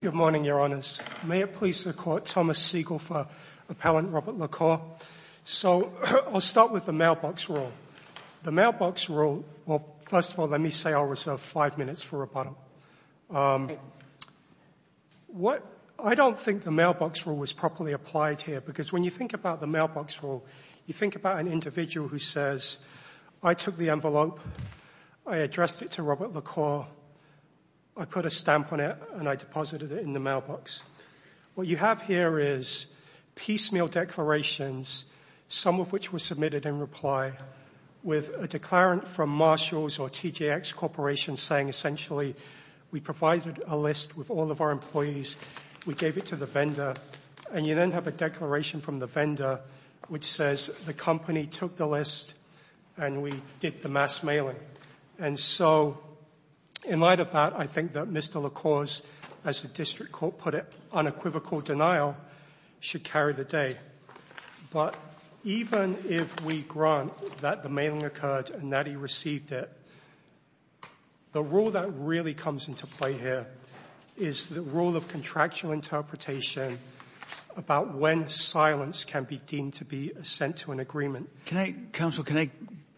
Good morning, Your Honours. May it please the Court, Thomas Siegel for Appellant Robert LaCour. So, I'll start with the mailbox rule. The mailbox rule, well, first of all, let me say I'll reserve five minutes for rebuttal. I don't think the mailbox rule was properly applied here because when you think about the mailbox rule, you think about an individual who says, I took the envelope, I addressed it to Robert LaCour, I put a stamp on it and I deposited it in the mailbox. What you have here is piecemeal declarations, some of which were submitted in reply, with a declarant from Marshalls or TJX Corporation saying essentially, we provided a list with all of our employees, we gave it to the vendor, and you then have a declaration from the vendor which says the company took the list and we did the mass the district court put it, unequivocal denial, should carry the day. But even if we grant that the mailing occurred and that he received it, the rule that really comes into play here is the rule of contractual interpretation about when silence can be deemed to be sent to an agreement. Counsel, can I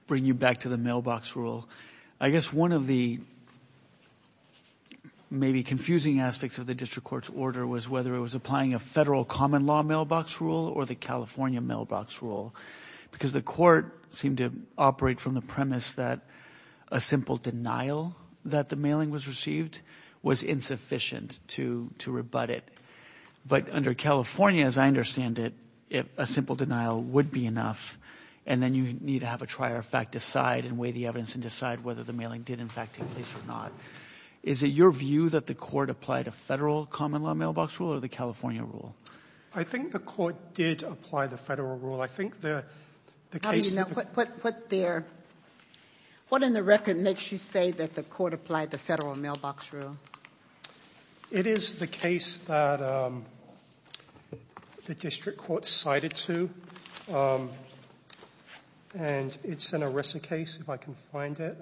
bring you back to the mailbox rule? I guess one of the maybe confusing aspects of the district court's order was whether it was applying a federal common law mailbox rule or the California mailbox rule. Because the court seemed to operate from the premise that a simple denial that the mailing was received was insufficient to rebut it. But under California, as I understand it, a simple denial would be enough, and then you need to have a trier of fact decide and weigh the evidence and decide whether the mailing did in fact take place or not. Is it your view that the court applied a federal common law mailbox rule or the California rule? I think the court did apply the federal rule. I think the case that the What in the record makes you say that the court applied the federal mailbox rule? It is the case that the district court cited to, and it's an ERISA case, if I can find it.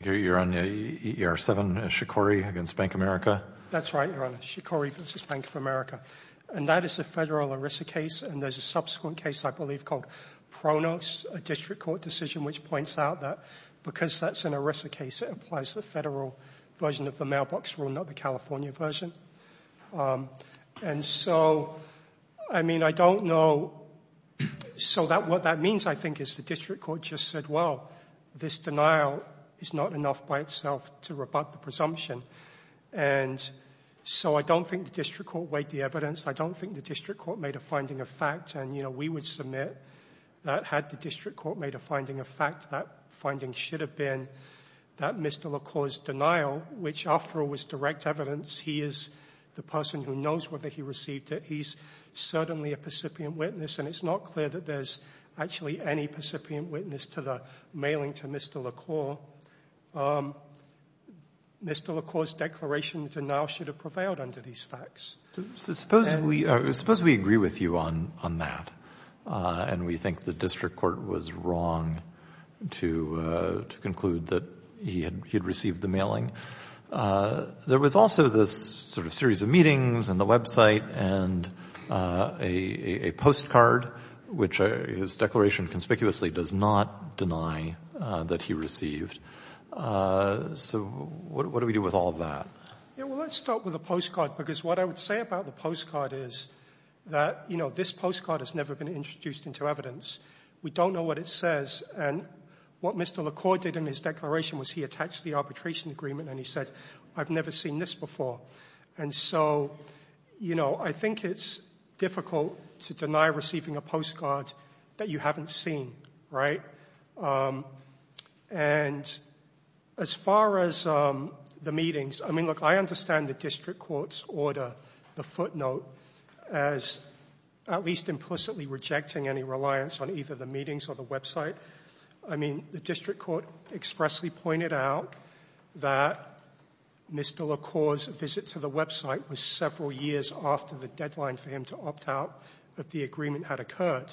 You're on EER 7, Shikori against Bank of America? That's right, Your Honor. Shikori versus Bank of America. And that is a federal ERISA case, and there's a subsequent case, I believe, called Pronos, a district court decision, which points out that because that's an ERISA case, it applies the federal version of the mailbox rule, not the California version. And so, I mean, I don't know. So what that means, I think, is the district court just said, well, this denial is not enough by itself to rebut the presumption. And so I don't think the district court weighed the evidence. I don't think the district court made a finding of fact. And, you know, we would submit that had the district court made a finding of fact, that finding should have been that Mr. LaCour's denial, which, after all, was direct evidence. He is the person who knows whether he received it. He's certainly a recipient witness, and it's not clear that there's actually any recipient witness to the mailing to Mr. LaCour. Mr. LaCour's declaration of denial should have prevailed under these facts. So suppose we agree with you on that, and we think the district court was wrong to conclude that he had received the mailing. There was also this sort of series of meetings and the his declaration conspicuously does not deny that he received. So what do we do with all of that? Well, let's start with the postcard, because what I would say about the postcard is that, you know, this postcard has never been introduced into evidence. We don't know what it says. And what Mr. LaCour did in his declaration was he attached the arbitration agreement, and he said, I've never seen this before. And so, you know, I think it's difficult to deny receiving a postcard that you haven't seen, right? And as far as the meetings, I mean, look, I understand the district court's order, the footnote, as at least implicitly rejecting any reliance on either the meetings or the website. I mean, the district court expressly pointed out that Mr. LaCour's visit to the website was several years after the deadline for him to opt out of the agreement had occurred.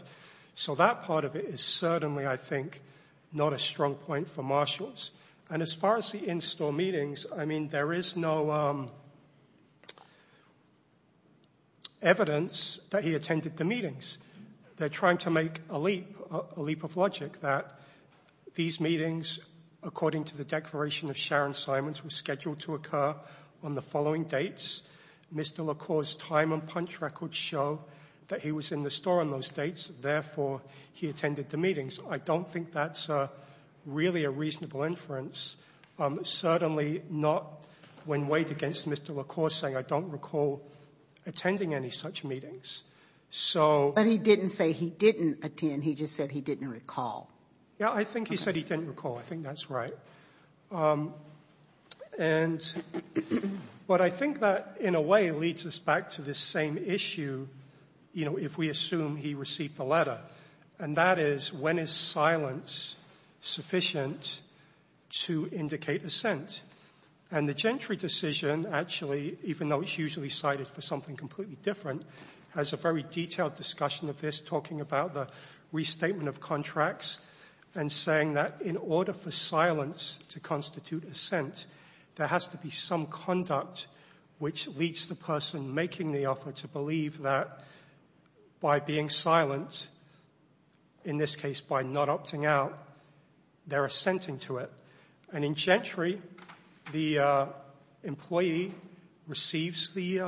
So that part of it is certainly, I think, not a strong point for marshals. And as far as the in-store meetings, I mean, there is no evidence that he attended the meetings. They're trying to make a leap, a leap of logic that these meetings, according to the declaration of Sharon Simons, were scheduled to occur on the following dates. Mr. LaCour's time and punch records show that he was in the store on those dates. Therefore, he attended the meetings. I don't think that's really a reasonable inference, certainly not when weighed against Mr. LaCour saying I don't recall attending any such meetings. So... But he didn't say he didn't attend. He just said he didn't recall. Yeah, I think he said he didn't recall. I think that's right. And what I think that in a way leads us back to this same issue, you know, if we assume he received the letter. And that is, when is silence sufficient to indicate assent? And the Gentry decision, actually, even though it's usually cited for something completely different, has a very detailed discussion of this, talking about the restatement of contracts and saying that in order for silence to constitute assent, there has to be some conduct which leads the person making the offer to believe that by being silent, in this case by not opting out, they're assenting to it. And in Gentry, the employee receives the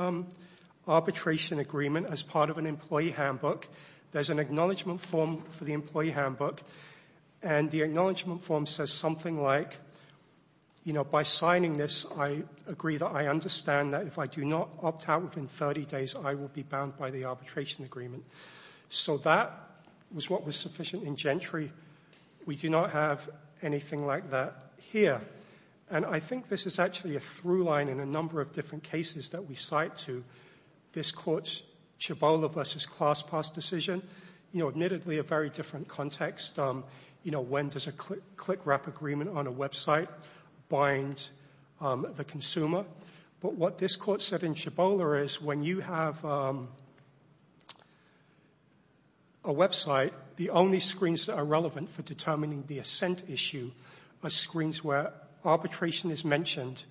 arbitration agreement as part of an employee handbook. There's an acknowledgment form for the employee handbook. And the acknowledgment form says something like, you know, by signing this, I agree that I understand that if I do not opt out within 30 days, I will be bound by the arbitration agreement. So that was what was sufficient in Gentry. We do not have anything like that here. And I think this is actually a through line in a number of different cases that we cite to this court's Chabola v. Class Pass decision. You know, admittedly, a very different context. You know, when does a click wrap agreement on a website bind the consumer? But what this does, a website, the only screens that are relevant for determining the assent issue are screens where arbitration is mentioned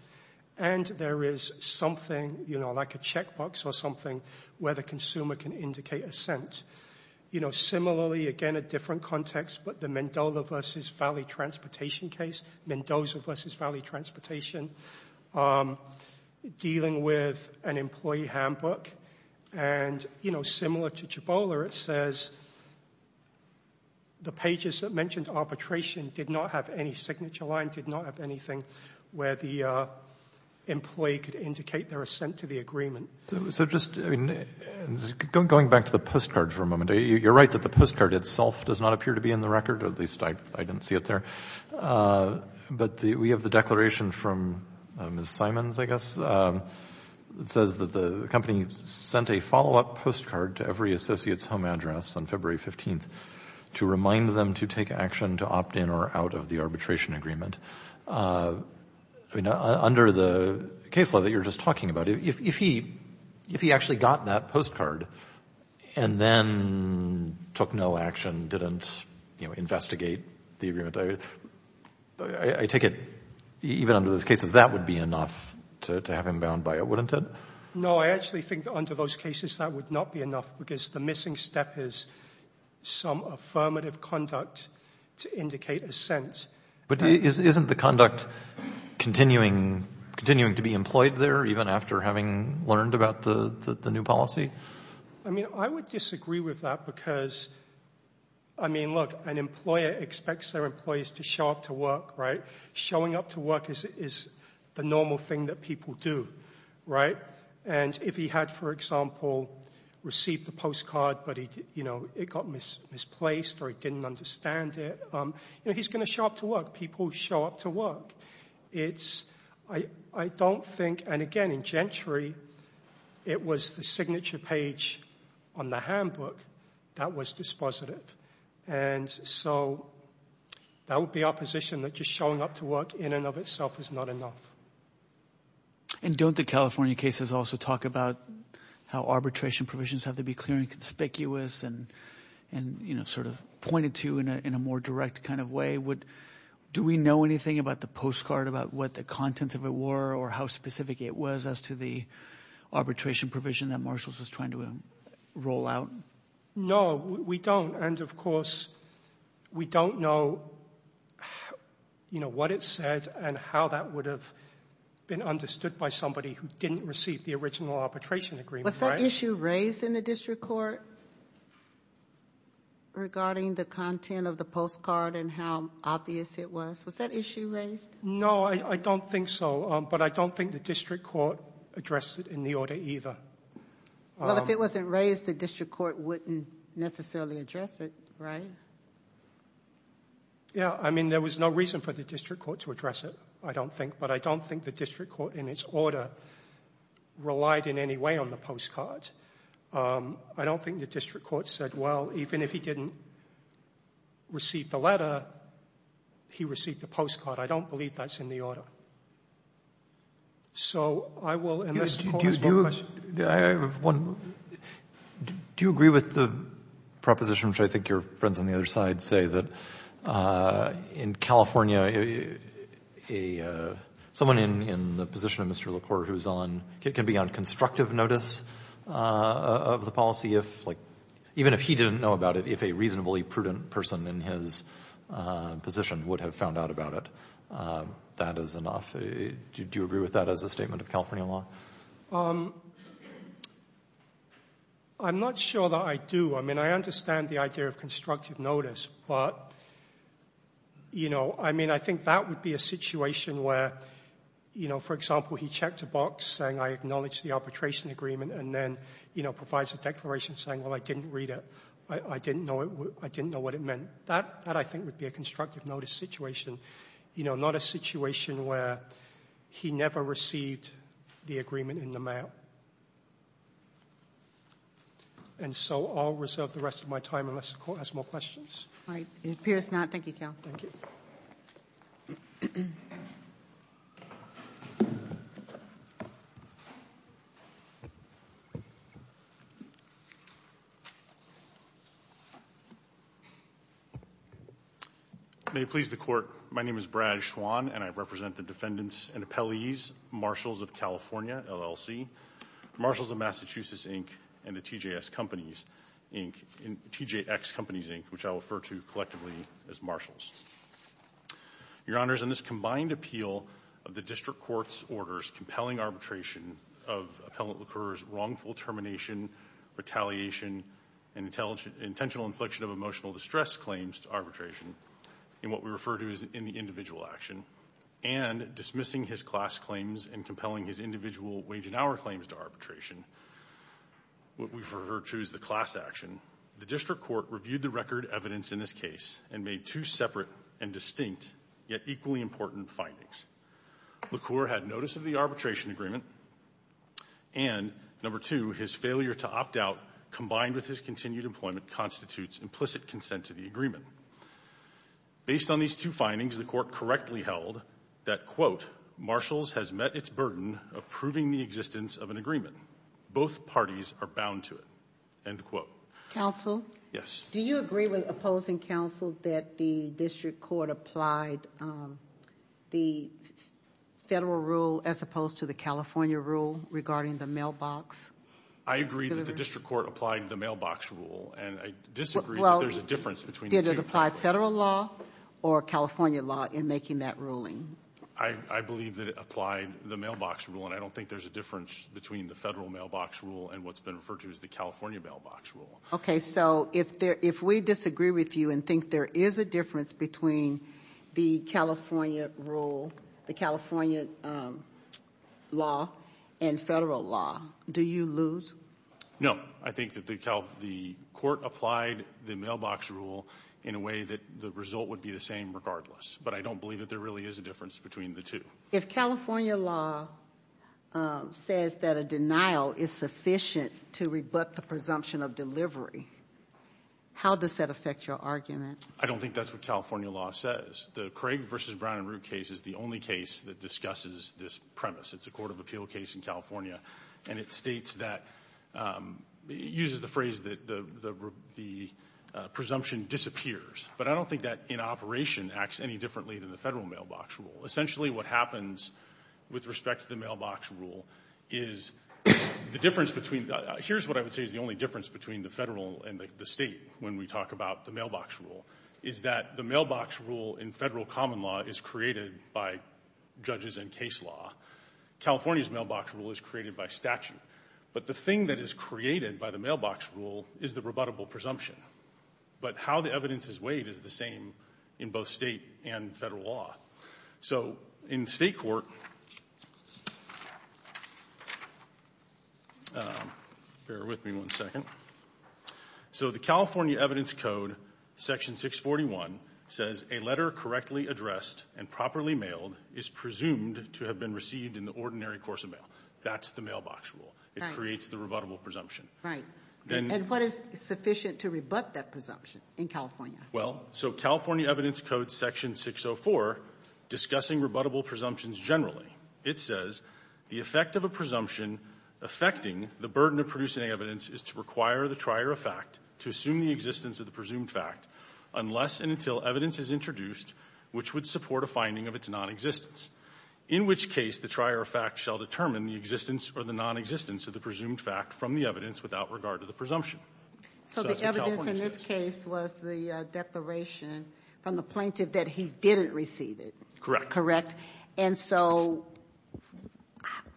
and there is something, you know, like a check box or something where the consumer can indicate assent. You know, similarly, again, a different context, but the Mendoza v. Valley Transportation case, Mendoza v. Valley Transportation, dealing with an employee handbook. And, you know, similar to Chabola, it says the pages that mentioned arbitration did not have any signature line, did not have anything where the employee could indicate their assent to the agreement. So just, I mean, going back to the postcard for a moment, you're right that the postcard itself does not appear to be in the record, or at least I didn't see it there. But we have the declaration from Ms. Simons, I guess, that says that the company sent a follow-up postcard to every associate's home address on February 15th to remind them to take action to opt in or out of the arbitration agreement. I mean, under the case law that you were just talking about, if he actually got that postcard and then took no action, didn't investigate the agreement, I take it even under those cases that would be enough to have him bound by it, wouldn't it? No, I actually think that under those cases that would not be enough because the missing step is some affirmative conduct to indicate assent. But isn't the conduct continuing to be employed there, even after having learned about the new policy? I mean, I would disagree with that because, I mean, look, an employer expects their employees to show up to work, right? Showing up to work is the normal thing that people do, right? And if he had, for example, received the postcard but it got misplaced or he didn't understand it, he's going to show up to work. People show up to work. I don't think, and again, in Gentry, it was the signature page on the handbook that was dispositive. And so that would be opposition that just showing up to work in and of itself is not enough. And don't the California cases also talk about how arbitration provisions have to be clear and conspicuous and, you know, sort of pointed to in a more direct kind of way? Do we know anything about the postcard, about what the contents of it were or how specific it was as to the arbitration provision that Marshalls was trying to roll out? No, we don't. And of course, we don't know, you know, what it said and how that would have been understood by somebody who didn't receive the original arbitration agreement. Was that issue raised in the district court regarding the content of the postcard and how obvious it was? Was that issue raised? No, I don't think so. But I don't think the district court addressed it in the order either. Well, if it wasn't raised, the district court wouldn't necessarily address it, right? Yeah. I mean, there was no reason for the district court to address it, I don't think. But I don't think the district court in its order relied in any way on the postcard. I don't think the district court said, well, even if he didn't receive the letter, he received the postcard. I don't believe that's in the order. So I will, unless the Court has more questions. Do you agree with the proposition, which I think your friends on the other side say, that in California, someone in the position of Mr. LaCour who can be on constructive notice of the policy, even if he didn't know about it, if a reasonably prudent person in his position would have found out about it, that is enough. Do you agree with that as a statement of California law? I'm not sure that I do. I mean, I understand the idea of constructive notice. But, you know, I mean, I think that would be a situation where, you know, for example, he checked a box saying, I acknowledge the arbitration agreement, and then, you know, provides a declaration saying, well, I didn't read it, I didn't know what it meant. That, I think, would be a constructive notice situation, you know, not a situation where he never received the agreement in the mail. And so I'll reserve the rest of my time, unless the Court has more questions. All right. It appears not. Thank you, Counsel. Thank you. May it please the Court, my name is Brad Schwan, and I represent the defendants and appellees, Marshals of California, LLC, Marshals of Massachusetts, Inc., and the TJX Companies, Inc., which I'll refer to collectively as Marshals. Your Honors, in this combined appeal of the District Court's orders compelling arbitration of Appellant LaCour's wrongful termination, retaliation, and intentional infliction of emotional distress claims to arbitration, in what we refer to as the individual action, and dismissing his class claims and compelling his individual wage and hour claims to arbitration, what we refer to as the class action, the District Court reviewed the record evidence in this case and made two separate and distinct, yet equally important, findings. LaCour had notice of the arbitration agreement, and, number two, his failure to opt out, combined with his continued employment, constitutes implicit consent to the agreement. Based on these two findings, the Court correctly held that, quote, Marshals has met its burden of proving the existence of an agreement. Both parties are bound to it. End quote. Counsel? Yes. Do you agree with opposing counsel that the District Court applied the federal rule as opposed to the California rule regarding the mailbox? I agree that the District Court applied the mailbox rule, and I disagree that there's a difference between the two. Well, did it apply federal law or California law in making that ruling? I believe that it applied the mailbox rule, and I don't think there's a difference between the federal mailbox rule and what's been referred to as the California mailbox rule. Okay, so if we disagree with you and think there is a difference between the California rule, the California law, and federal law, do you lose? No. I think that the Court applied the mailbox rule in a way that the result would be the same regardless, but I don't believe that there really is a difference between the two. If California law says that a denial is sufficient to rebut the presumption of delivery, how does that affect your argument? I don't think that's what California law says. The Craig v. Brown and Root case is the only case that discusses this premise. It's a court of appeal case in California, and it states that, it uses the phrase that the presumption disappears, but I don't think that in operation acts any differently than the federal mailbox rule. Essentially what happens with respect to the mailbox rule is the difference between, here's what I would say is the only difference between the federal and the State when we talk about the mailbox rule, is that the mailbox rule in federal common law is created by judges and case law. California's mailbox rule is created by statute. But the thing that is created by the mailbox rule is the rebuttable presumption. But how the evidence is weighed is the same in both State and federal law. So in State court, bear with me one second. So the California evidence code, section 641, says a letter correctly addressed and properly mailed is presumed to have been received in the ordinary course of mail. That's the mailbox rule. It creates the rebuttable presumption. Ginsburg. Right. And what is sufficient to rebut that presumption in California? Well, so California evidence code section 604, discussing rebuttable presumptions generally, it says the effect of a presumption affecting the burden of producing evidence is to require the trier of fact to assume the existence of the presumed fact unless and until evidence is introduced which would support a finding of its nonexistence, in which case the trier of fact shall determine the existence or the nonexistence of the presumed fact from the evidence without regard to the presumption. So that's what California says. So the evidence in this case was the declaration from the plaintiff that he didn't receive it. Correct. Correct. And so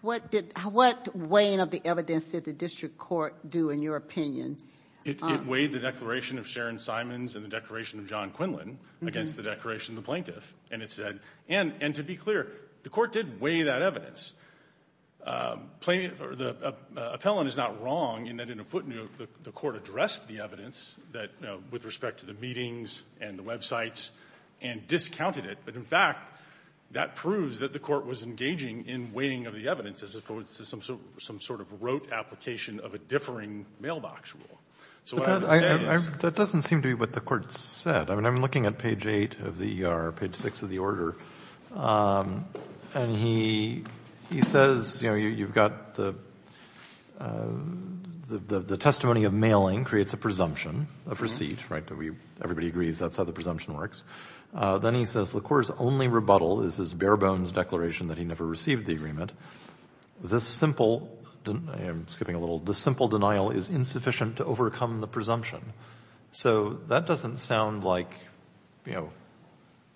what did — what weighing of the evidence did the district court do in your opinion? It weighed the declaration of Sharon Simons and the declaration of John Quinlan against the declaration of the plaintiff. And it said — and to be clear, the court did weigh that evidence. The appellant is not wrong in that in a footnote the court addressed the evidence that, you know, with respect to the meetings and the websites and discounted it. But in fact, that proves that the court was engaging in weighing of the evidence as opposed to some sort of rote application of a differing mailbox rule. So what I would say is — But that doesn't seem to be what the Court said. I mean, I'm looking at page 8 of the ER, page 6 of the order, and he says, you know, you've got the testimony of mailing creates a presumption of receipt, right? Everybody agrees that's how the presumption works. Then he says the court's only rebuttal is his bare-bones declaration that he never received the agreement. This simple — I'm skipping a little. This simple denial is insufficient to overcome the presumption. So that doesn't sound like, you know,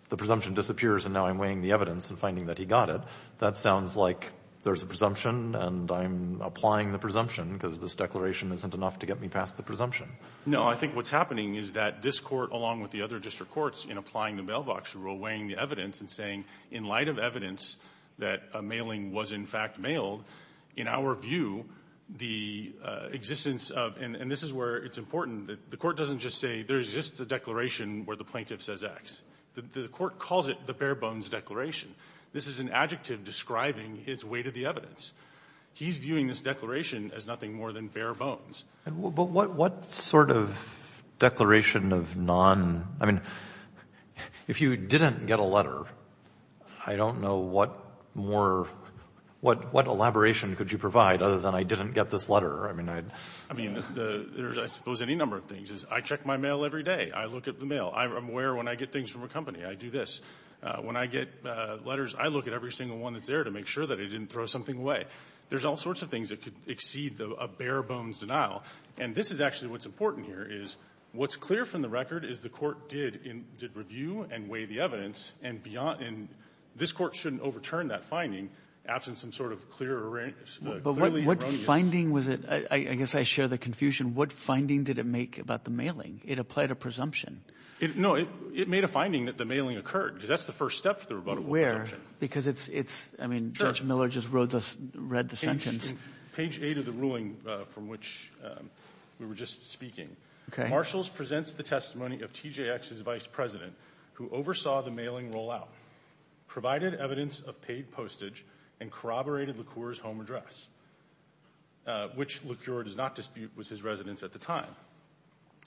the presumption disappears and now I'm weighing the evidence and finding that he got it. That sounds like there's a presumption and I'm applying the presumption because this declaration isn't enough to get me past the presumption. No. I think what's happening is that this Court, along with the other district courts, in applying the mailbox rule, weighing the evidence and saying, in light of evidence that a mailing was, in fact, mailed, in our view, the existence of — and this is where it's important that the Court doesn't just say there's just a declaration where the plaintiff says X. The Court calls it the bare-bones declaration. This is an adjective describing his weight of the evidence. He's viewing this declaration as nothing more than bare-bones. But what sort of declaration of non — I mean, if you didn't get a letter, I don't know what more — what elaboration could you provide other than I didn't get this letter? I mean, I — I mean, there's, I suppose, any number of things. I check my mail every day. I look at the mail. I'm aware when I get things from a company, I do this. When I get letters, I look at every single one that's there to make sure that I didn't throw something away. There's all sorts of things that could exceed a bare-bones denial. And this is actually what's important here, is what's clear from the record is the Court did review and weigh the evidence, and beyond — and this Court shouldn't overturn that finding, absent some sort of clear — But what finding was it — I guess I share the confusion. What finding did it make about the mailing? It applied a presumption. No. It made a finding that the mailing occurred, because that's the first step for the rebuttable presumption. Where? Because it's — I mean, Judge Miller just read the sentence. Page 8 of the ruling from which we were just speaking. Okay. Marshalls presents the testimony of TJX's vice president, who oversaw the mailing rollout, provided evidence of paid postage, and corroborated LeCour's home address, which LeCour does not dispute was his residence at the time.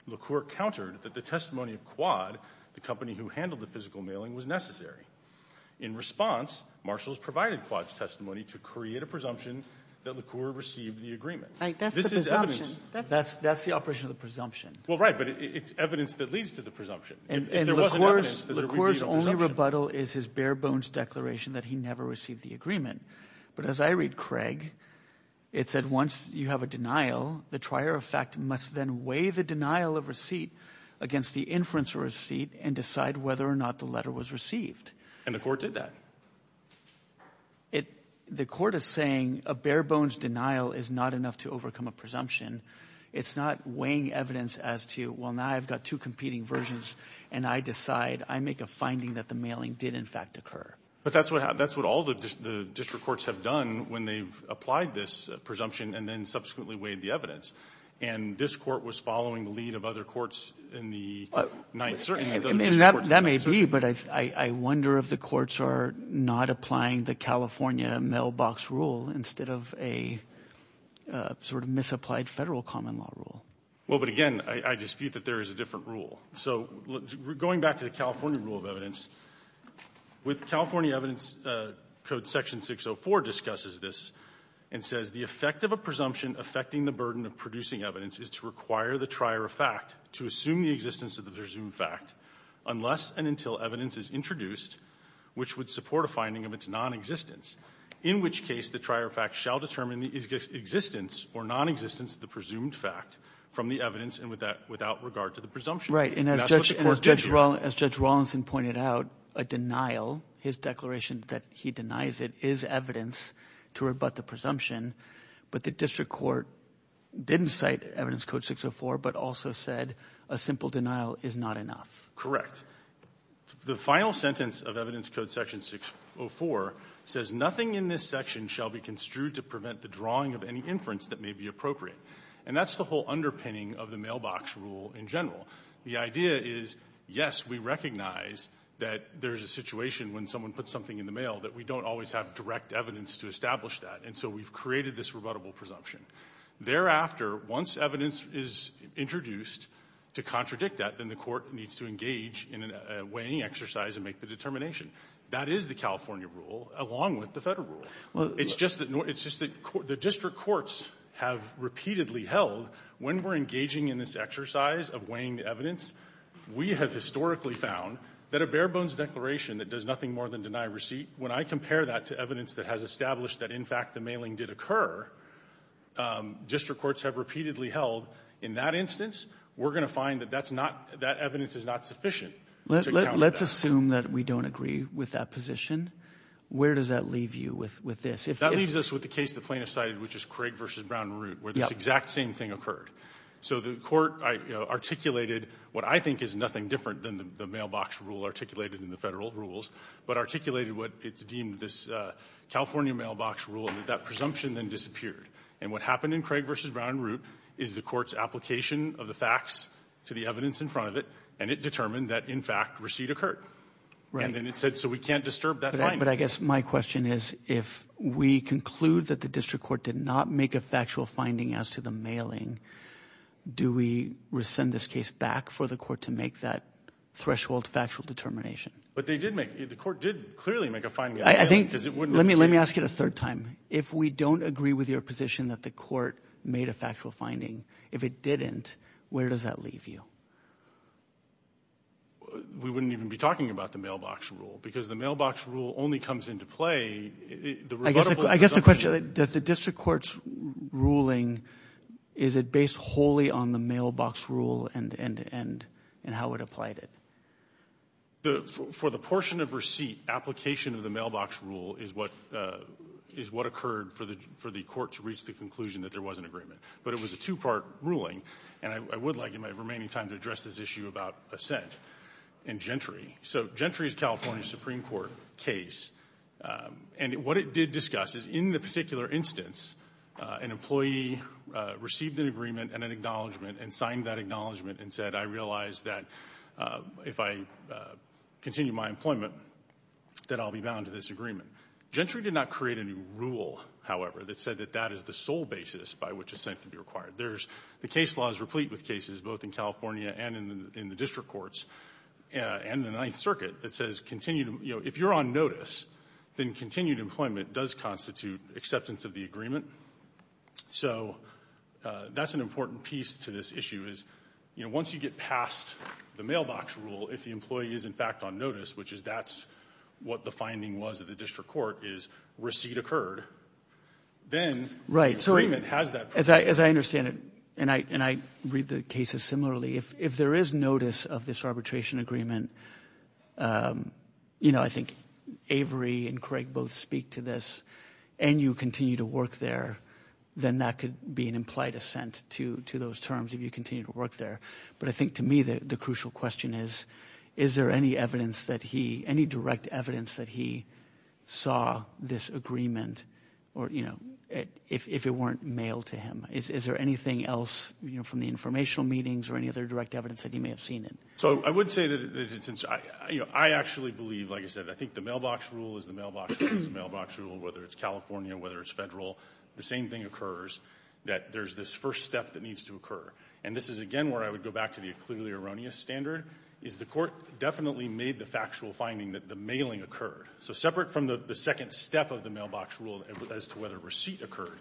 LeCour countered that the testimony of Quad, the company who handled the physical mailing, was necessary. In response, Marshalls provided Quad's testimony to create a presumption that LeCour received the agreement. Right. That's the presumption. That's the operation of the presumption. Well, right, but it's evidence that leads to the presumption. If there wasn't evidence, there would be a presumption. And LeCour's only rebuttal is his bare-bones declaration that he never received the agreement. But as I read Craig, it said once you have a denial, the trier of fact must then weigh the denial of receipt against the inference of receipt and decide whether or not the letter was received. And LeCour did that. The court is saying a bare-bones denial is not enough to overcome a presumption. It's not weighing evidence as to, well, now I've got two competing versions, and I decide, I make a finding that the mailing did in fact occur. But that's what all the district courts have done when they've applied this presumption and then subsequently weighed the evidence. And this court was following the lead of other courts in the Ninth Circuit. And that may be, but I wonder if the courts are not applying the California mailbox rule instead of a sort of misapplied Federal common law rule. Well, but again, I dispute that there is a different rule. So going back to the California rule of evidence, with California evidence code section 604 discusses this and says the effect of a presumption affecting the burden of producing evidence is to require the trier of fact to assume the existence of the presumed fact unless and until evidence is introduced, which would support a finding of its nonexistence, in which case the trier of fact shall determine the existence or nonexistence of the presumed fact from the evidence and without regard to the presumption. And that's what the court did here. And as Judge Rawlinson pointed out, a denial, his declaration that he denies it, is evidence to rebut the presumption. But the district court didn't cite evidence code 604, but also said a simple denial is not enough. Correct. The final sentence of evidence code section 604 says nothing in this section shall be construed to prevent the drawing of any inference that may be appropriate. And that's the whole underpinning of the mailbox rule in general. The idea is, yes, we recognize that there is a situation when someone puts something in the mail that we don't always have direct evidence to establish that, and so we've created this rebuttable presumption. Thereafter, once evidence is introduced to contradict that, then the court needs to engage in a weighing exercise and make the determination. That is the California rule, along with the Federal rule. It's just that the district courts have repeatedly held, when we're engaging in this exercise of weighing the evidence, we have historically found that a bare-bones declaration that does nothing more than deny receipt, when I compare that to evidence that has established that, in fact, the mailing did occur, district courts have repeatedly held, in that instance, we're going to find that that's not, that evidence is not sufficient to account for that. Let's assume that we don't agree with that position. Where does that leave you with this? That leaves us with the case the plaintiff cited, which is Craig v. Brown Root, where this exact same thing occurred. So the court articulated what I think is nothing different than the mailbox rule articulated in the Federal rules, but articulated what it's deemed this California mailbox rule, and that presumption then disappeared. And what happened in Craig v. Brown Root is the court's application of the facts to the evidence in front of it, and it determined that, in fact, receipt occurred. And then it said, so we can't disturb that finding. But I guess my question is, if we conclude that the district court did not make a factual finding as to the mailing, do we rescind this case back for the court to make that threshold factual determination? But they did make the court did clearly make a finding. Let me ask it a third time. If we don't agree with your position that the court made a factual finding, if it didn't, where does that leave you? We wouldn't even be talking about the mailbox rule, because the mailbox rule only comes into play. I guess the question, does the district court's ruling, is it based wholly on the mailbox rule and how it applied it? For the portion of receipt, application of the mailbox rule is what occurred for the court to reach the conclusion that there was an agreement. But it was a two-part ruling. And I would like, in my remaining time, to address this issue about assent and Gentry. So Gentry is a California Supreme Court case. And what it did discuss is, in the particular instance, an employee received an agreement and an acknowledgment and signed that acknowledgment and said, I realize that if I continue my employment, that I'll be bound to this agreement. Gentry did not create a new rule, however, that said that that is the sole basis by which assent can be required. There's the case laws replete with cases, both in California and in the district courts, and in the Ninth Circuit, that says continued, you know, if you're on notice, then continued employment does constitute acceptance of the agreement. So that's an important piece to this issue, is, you know, once you get past the mailbox rule, if the employee is, in fact, on notice, which is that's what the finding was at the district court, is receipt occurred, then the agreement has that purpose. As I understand it, and I read the cases similarly, if there is notice of this arbitration agreement, you know, I think Avery and Craig both speak to this, and you continue to work there, then that could be an implied assent to those terms if you continue to work there. But I think to me the crucial question is, is there any evidence that he, any direct evidence that he saw this agreement, or, you know, if it weren't mailed to him? Is there anything else, you know, from the informational meetings or any other direct evidence that he may have seen it? So I would say that since I, you know, I actually believe, like I said, I think the same thing occurs, that there's this first step that needs to occur. And this is again where I would go back to the clearly erroneous standard, is the Court definitely made the factual finding that the mailing occurred. So separate from the second step of the mailbox rule as to whether receipt occurred,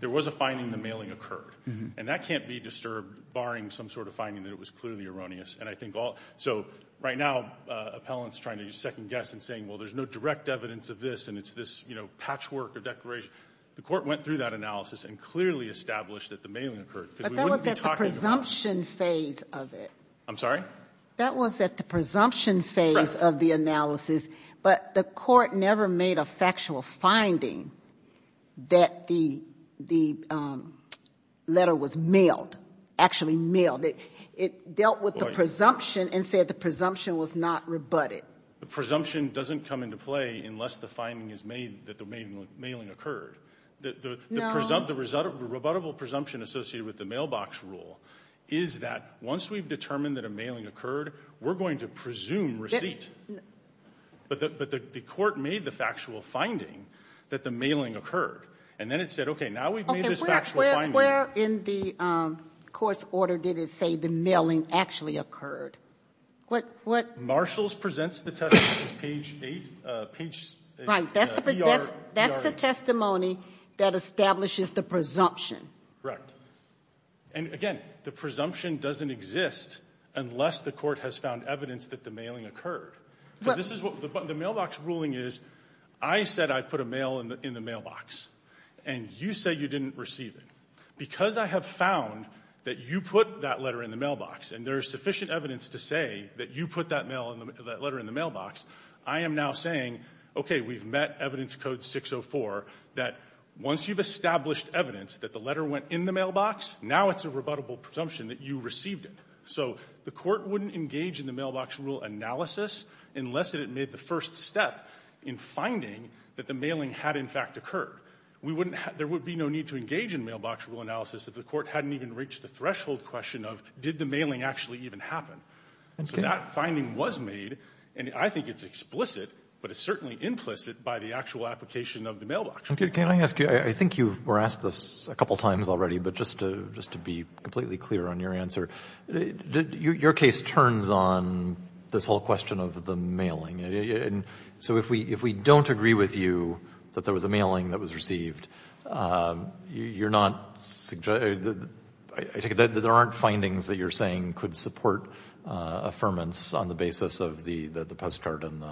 there was a finding the mailing occurred. And that can't be disturbed barring some sort of finding that it was clearly erroneous. And I think all so right now appellants trying to second-guess and saying, well, there's no direct evidence of this, and it's this, you know, patchwork or declaration. The Court went through that analysis and clearly established that the mailing occurred. But that was at the presumption phase of it. I'm sorry? That was at the presumption phase of the analysis. But the Court never made a factual finding that the letter was mailed, actually mailed. It dealt with the presumption and said the presumption was not rebutted. The presumption doesn't come into play unless the finding is made that the mailing occurred. The result of the rebuttable presumption associated with the mailbox rule is that once we've determined that a mailing occurred, we're going to presume receipt. But the Court made the factual finding that the mailing occurred. And then it said, okay, now we've made this factual finding. Okay. Where in the course order did it say the mailing actually occurred? What did it say? Marshall's presents the testimony on page 8, page ER8. That's the testimony that establishes the presumption. Correct. And again, the presumption doesn't exist unless the Court has found evidence that the mailing occurred. But this is what the mailbox ruling is. I said I put a mail in the mailbox, and you say you didn't receive it. Because I have found that you put that letter in the mailbox and there is sufficient evidence to say that you put that letter in the mailbox, I am now saying, okay, we've met Evidence Code 604, that once you've established evidence that the letter went in the mailbox, now it's a rebuttable presumption that you received it. So the Court wouldn't engage in the mailbox rule analysis unless it had made the first step in finding that the mailing had in fact occurred. There would be no need to engage in mailbox rule analysis if the Court hadn't even reached the threshold question of did the mailing actually even happen. So that finding was made, and I think it's explicit, but it's certainly implicit by the actual application of the mailbox rule analysis. Okay. Can I ask you, I think you were asked this a couple times already, but just to be completely clear on your answer, your case turns on this whole question of the mailing. So if we don't agree with you that there was a mailing that was received, you're not, I take it that there aren't findings that you're saying could support affirmance on the basis of the postcard and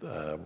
the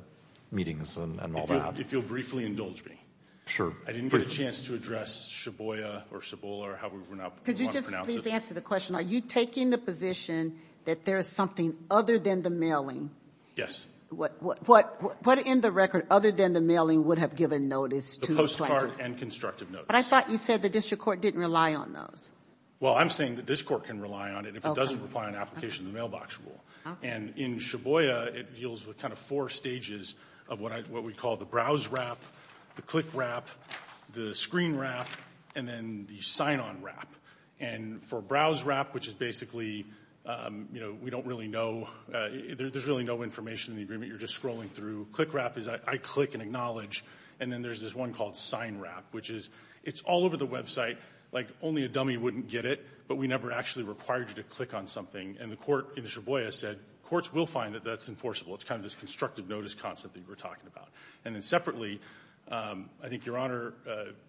meetings and all that? If you'll briefly indulge me. Sure. I didn't get a chance to address Shiboya or Shibola or however you want to pronounce it. Could you just please answer the question? Are you taking the position that there is something other than the mailing? Yes. What in the record other than the mailing would have given notice to the plaintiff? The postcard and constructive notice. But I thought you said the District Court didn't rely on those. Well, I'm saying that this Court can rely on it if it doesn't apply an application to the mailbox rule. Okay. And in Shiboya, it deals with kind of four stages of what we call the browse wrap, the click wrap, the screen wrap, and then the sign-on wrap. And for browse wrap, which is basically, you know, we don't really know, there's really no information in the agreement. You're just scrolling through. Click wrap is I click and acknowledge. And then there's this one called sign wrap, which is it's all over the website. Like only a dummy wouldn't get it, but we never actually required you to click on something. And the Court in Shiboya said courts will find that that's enforceable. It's kind of this constructive notice concept that you were talking about. And then separately, I think Your Honor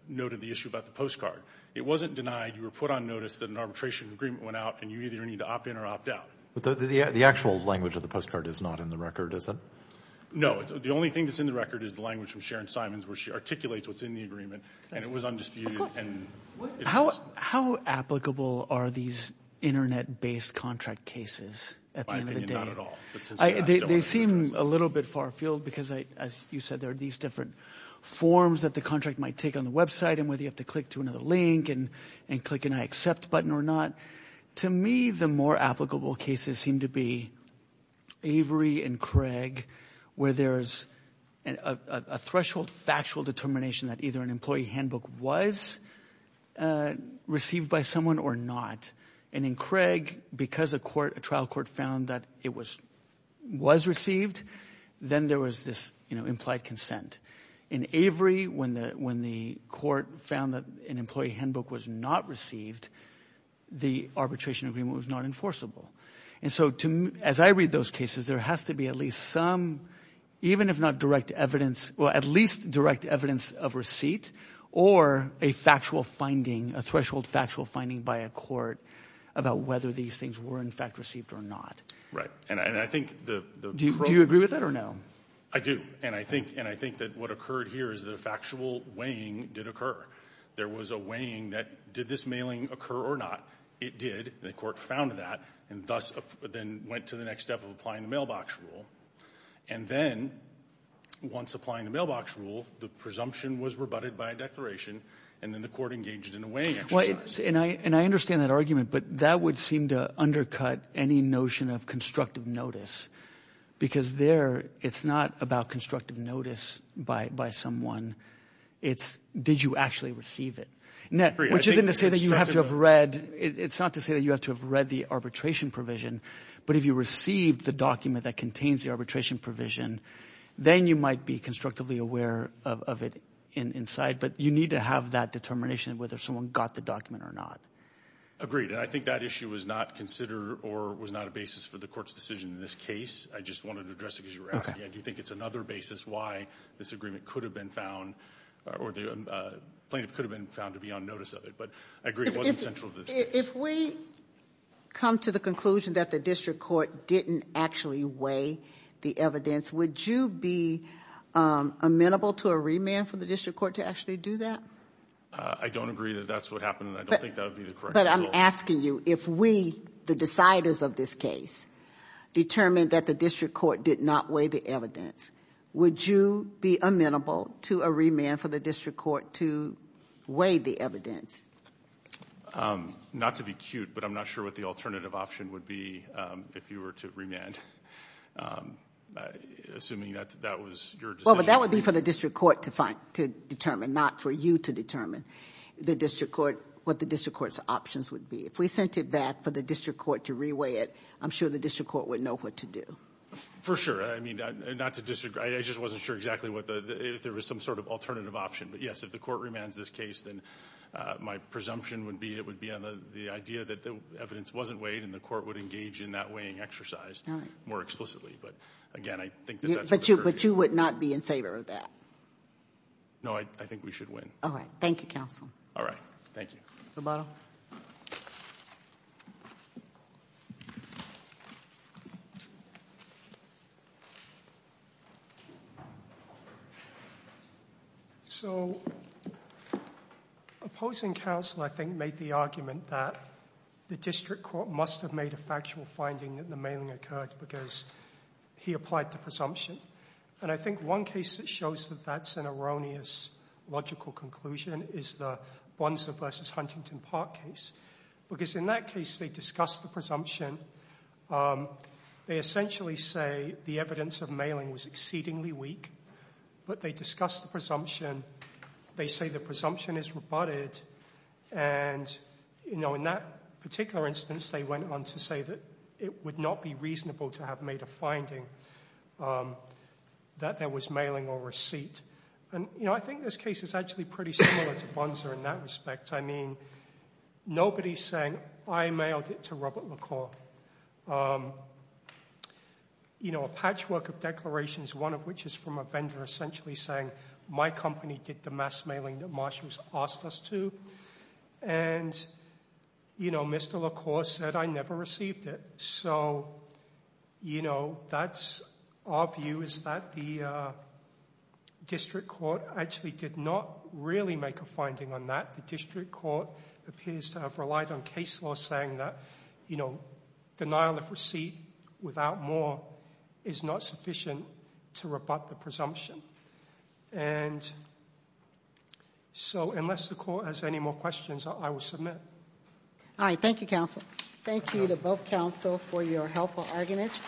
noted the issue about the postcard. It wasn't denied. You were put on notice that an arbitration agreement went out, and you either need to opt in or opt out. But the actual language of the postcard is not in the record, is it? No. The only thing that's in the record is the language from Sharon Simons, where she articulates what's in the agreement, and it was undisputed. How applicable are these Internet-based contract cases at the end of the day? In my opinion, not at all. They seem a little bit far afield because, as you said, there are these different forms that the contract might take on the website and whether you have to click to another link and click an I accept button or not. To me, the more applicable cases seem to be Avery and Craig, where there's a threshold factual determination that either an employee handbook was received by someone or not. In Craig, because a trial court found that it was received, then there was this implied consent. In Avery, when the court found that an employee handbook was not received, the arbitration agreement was not enforceable. As I read those cases, there has to be at least some, even if not direct evidence, well, at least direct evidence of receipt or a factual finding, a threshold factual finding by a court about whether these things were in fact received or not. Right. And I think the problem – Do you agree with that or no? I do. And I think that what occurred here is the factual weighing did occur. There was a weighing that did this mailing occur or not. It did. The court found that and thus then went to the next step of applying the mailbox rule. And then once applying the mailbox rule, the presumption was rebutted by a declaration, and then the court engaged in a weighing exercise. And I understand that argument, but that would seem to undercut any notion of constructive notice because there it's not about constructive notice by someone. It's did you actually receive it, which isn't to say that you have to have read – it's not to say that you have to have read the arbitration provision. But if you received the document that contains the arbitration provision, then you might be constructively aware of it inside. But you need to have that determination of whether someone got the document or not. Agreed. And I think that issue was not considered or was not a basis for the court's decision in this case. I just wanted to address it because you were asking. I do think it's another basis why this agreement could have been found or the plaintiff could have been found to be on notice of it. But I agree it wasn't central to this case. If we come to the conclusion that the district court didn't actually weigh the evidence, would you be amenable to a remand for the district court to actually do that? I don't agree that that's what happened, and I don't think that would be the correct rule. But I'm asking you if we, the deciders of this case, determined that the district court did not weigh the evidence, would you be amenable to a remand for the district court to weigh the evidence? Not to be cute, but I'm not sure what the alternative option would be if you were to remand, assuming that that was your decision. Well, but that would be for the district court to find, to determine, not for you to determine the district court, what the district court's options would be. If we sent it back for the district court to reweigh it, I'm sure the district court would know what to do. For sure. I mean, not to disagree. I just wasn't sure exactly if there was some sort of alternative option. But, yes, if the court remands this case, then my presumption would be it would be on the idea that the evidence wasn't weighed and the court would engage in that weighing exercise more explicitly. But, again, I think that that's what occurred to me. But you would not be in favor of that? No, I think we should win. All right. Thank you, counsel. All right. Thank you. Mr. Bonner. So opposing counsel, I think, made the argument that the district court must have made a factual finding that the mailing occurred because he applied to presumption. And I think one case that shows that that's an erroneous logical conclusion is the Bunser v. Huntington Park case. Because in that case, they discussed the presumption. They essentially say the evidence of mailing was exceedingly weak. But they discussed the presumption. They say the presumption is rebutted. And, you know, in that particular instance, they went on to say that it would not be reasonable to have made a finding that there was mailing or receipt. And, you know, I think this case is actually pretty similar to Bunser in that respect. I mean, nobody's saying, I mailed it to Robert LaCour. You know, a patchwork of declarations, one of which is from a vendor essentially saying, my company did the mass mailing that Marshall's asked us to. And, you know, Mr. LaCour said I never received it. So, you know, that's our view is that the district court actually did not really make a finding on that. The district court appears to have relied on case law saying that, you know, denial of receipt without more is not sufficient to rebut the presumption. And so unless LaCour has any more questions, I will submit. All right. Thank you, counsel. Thank you to both counsel for your helpful arguments.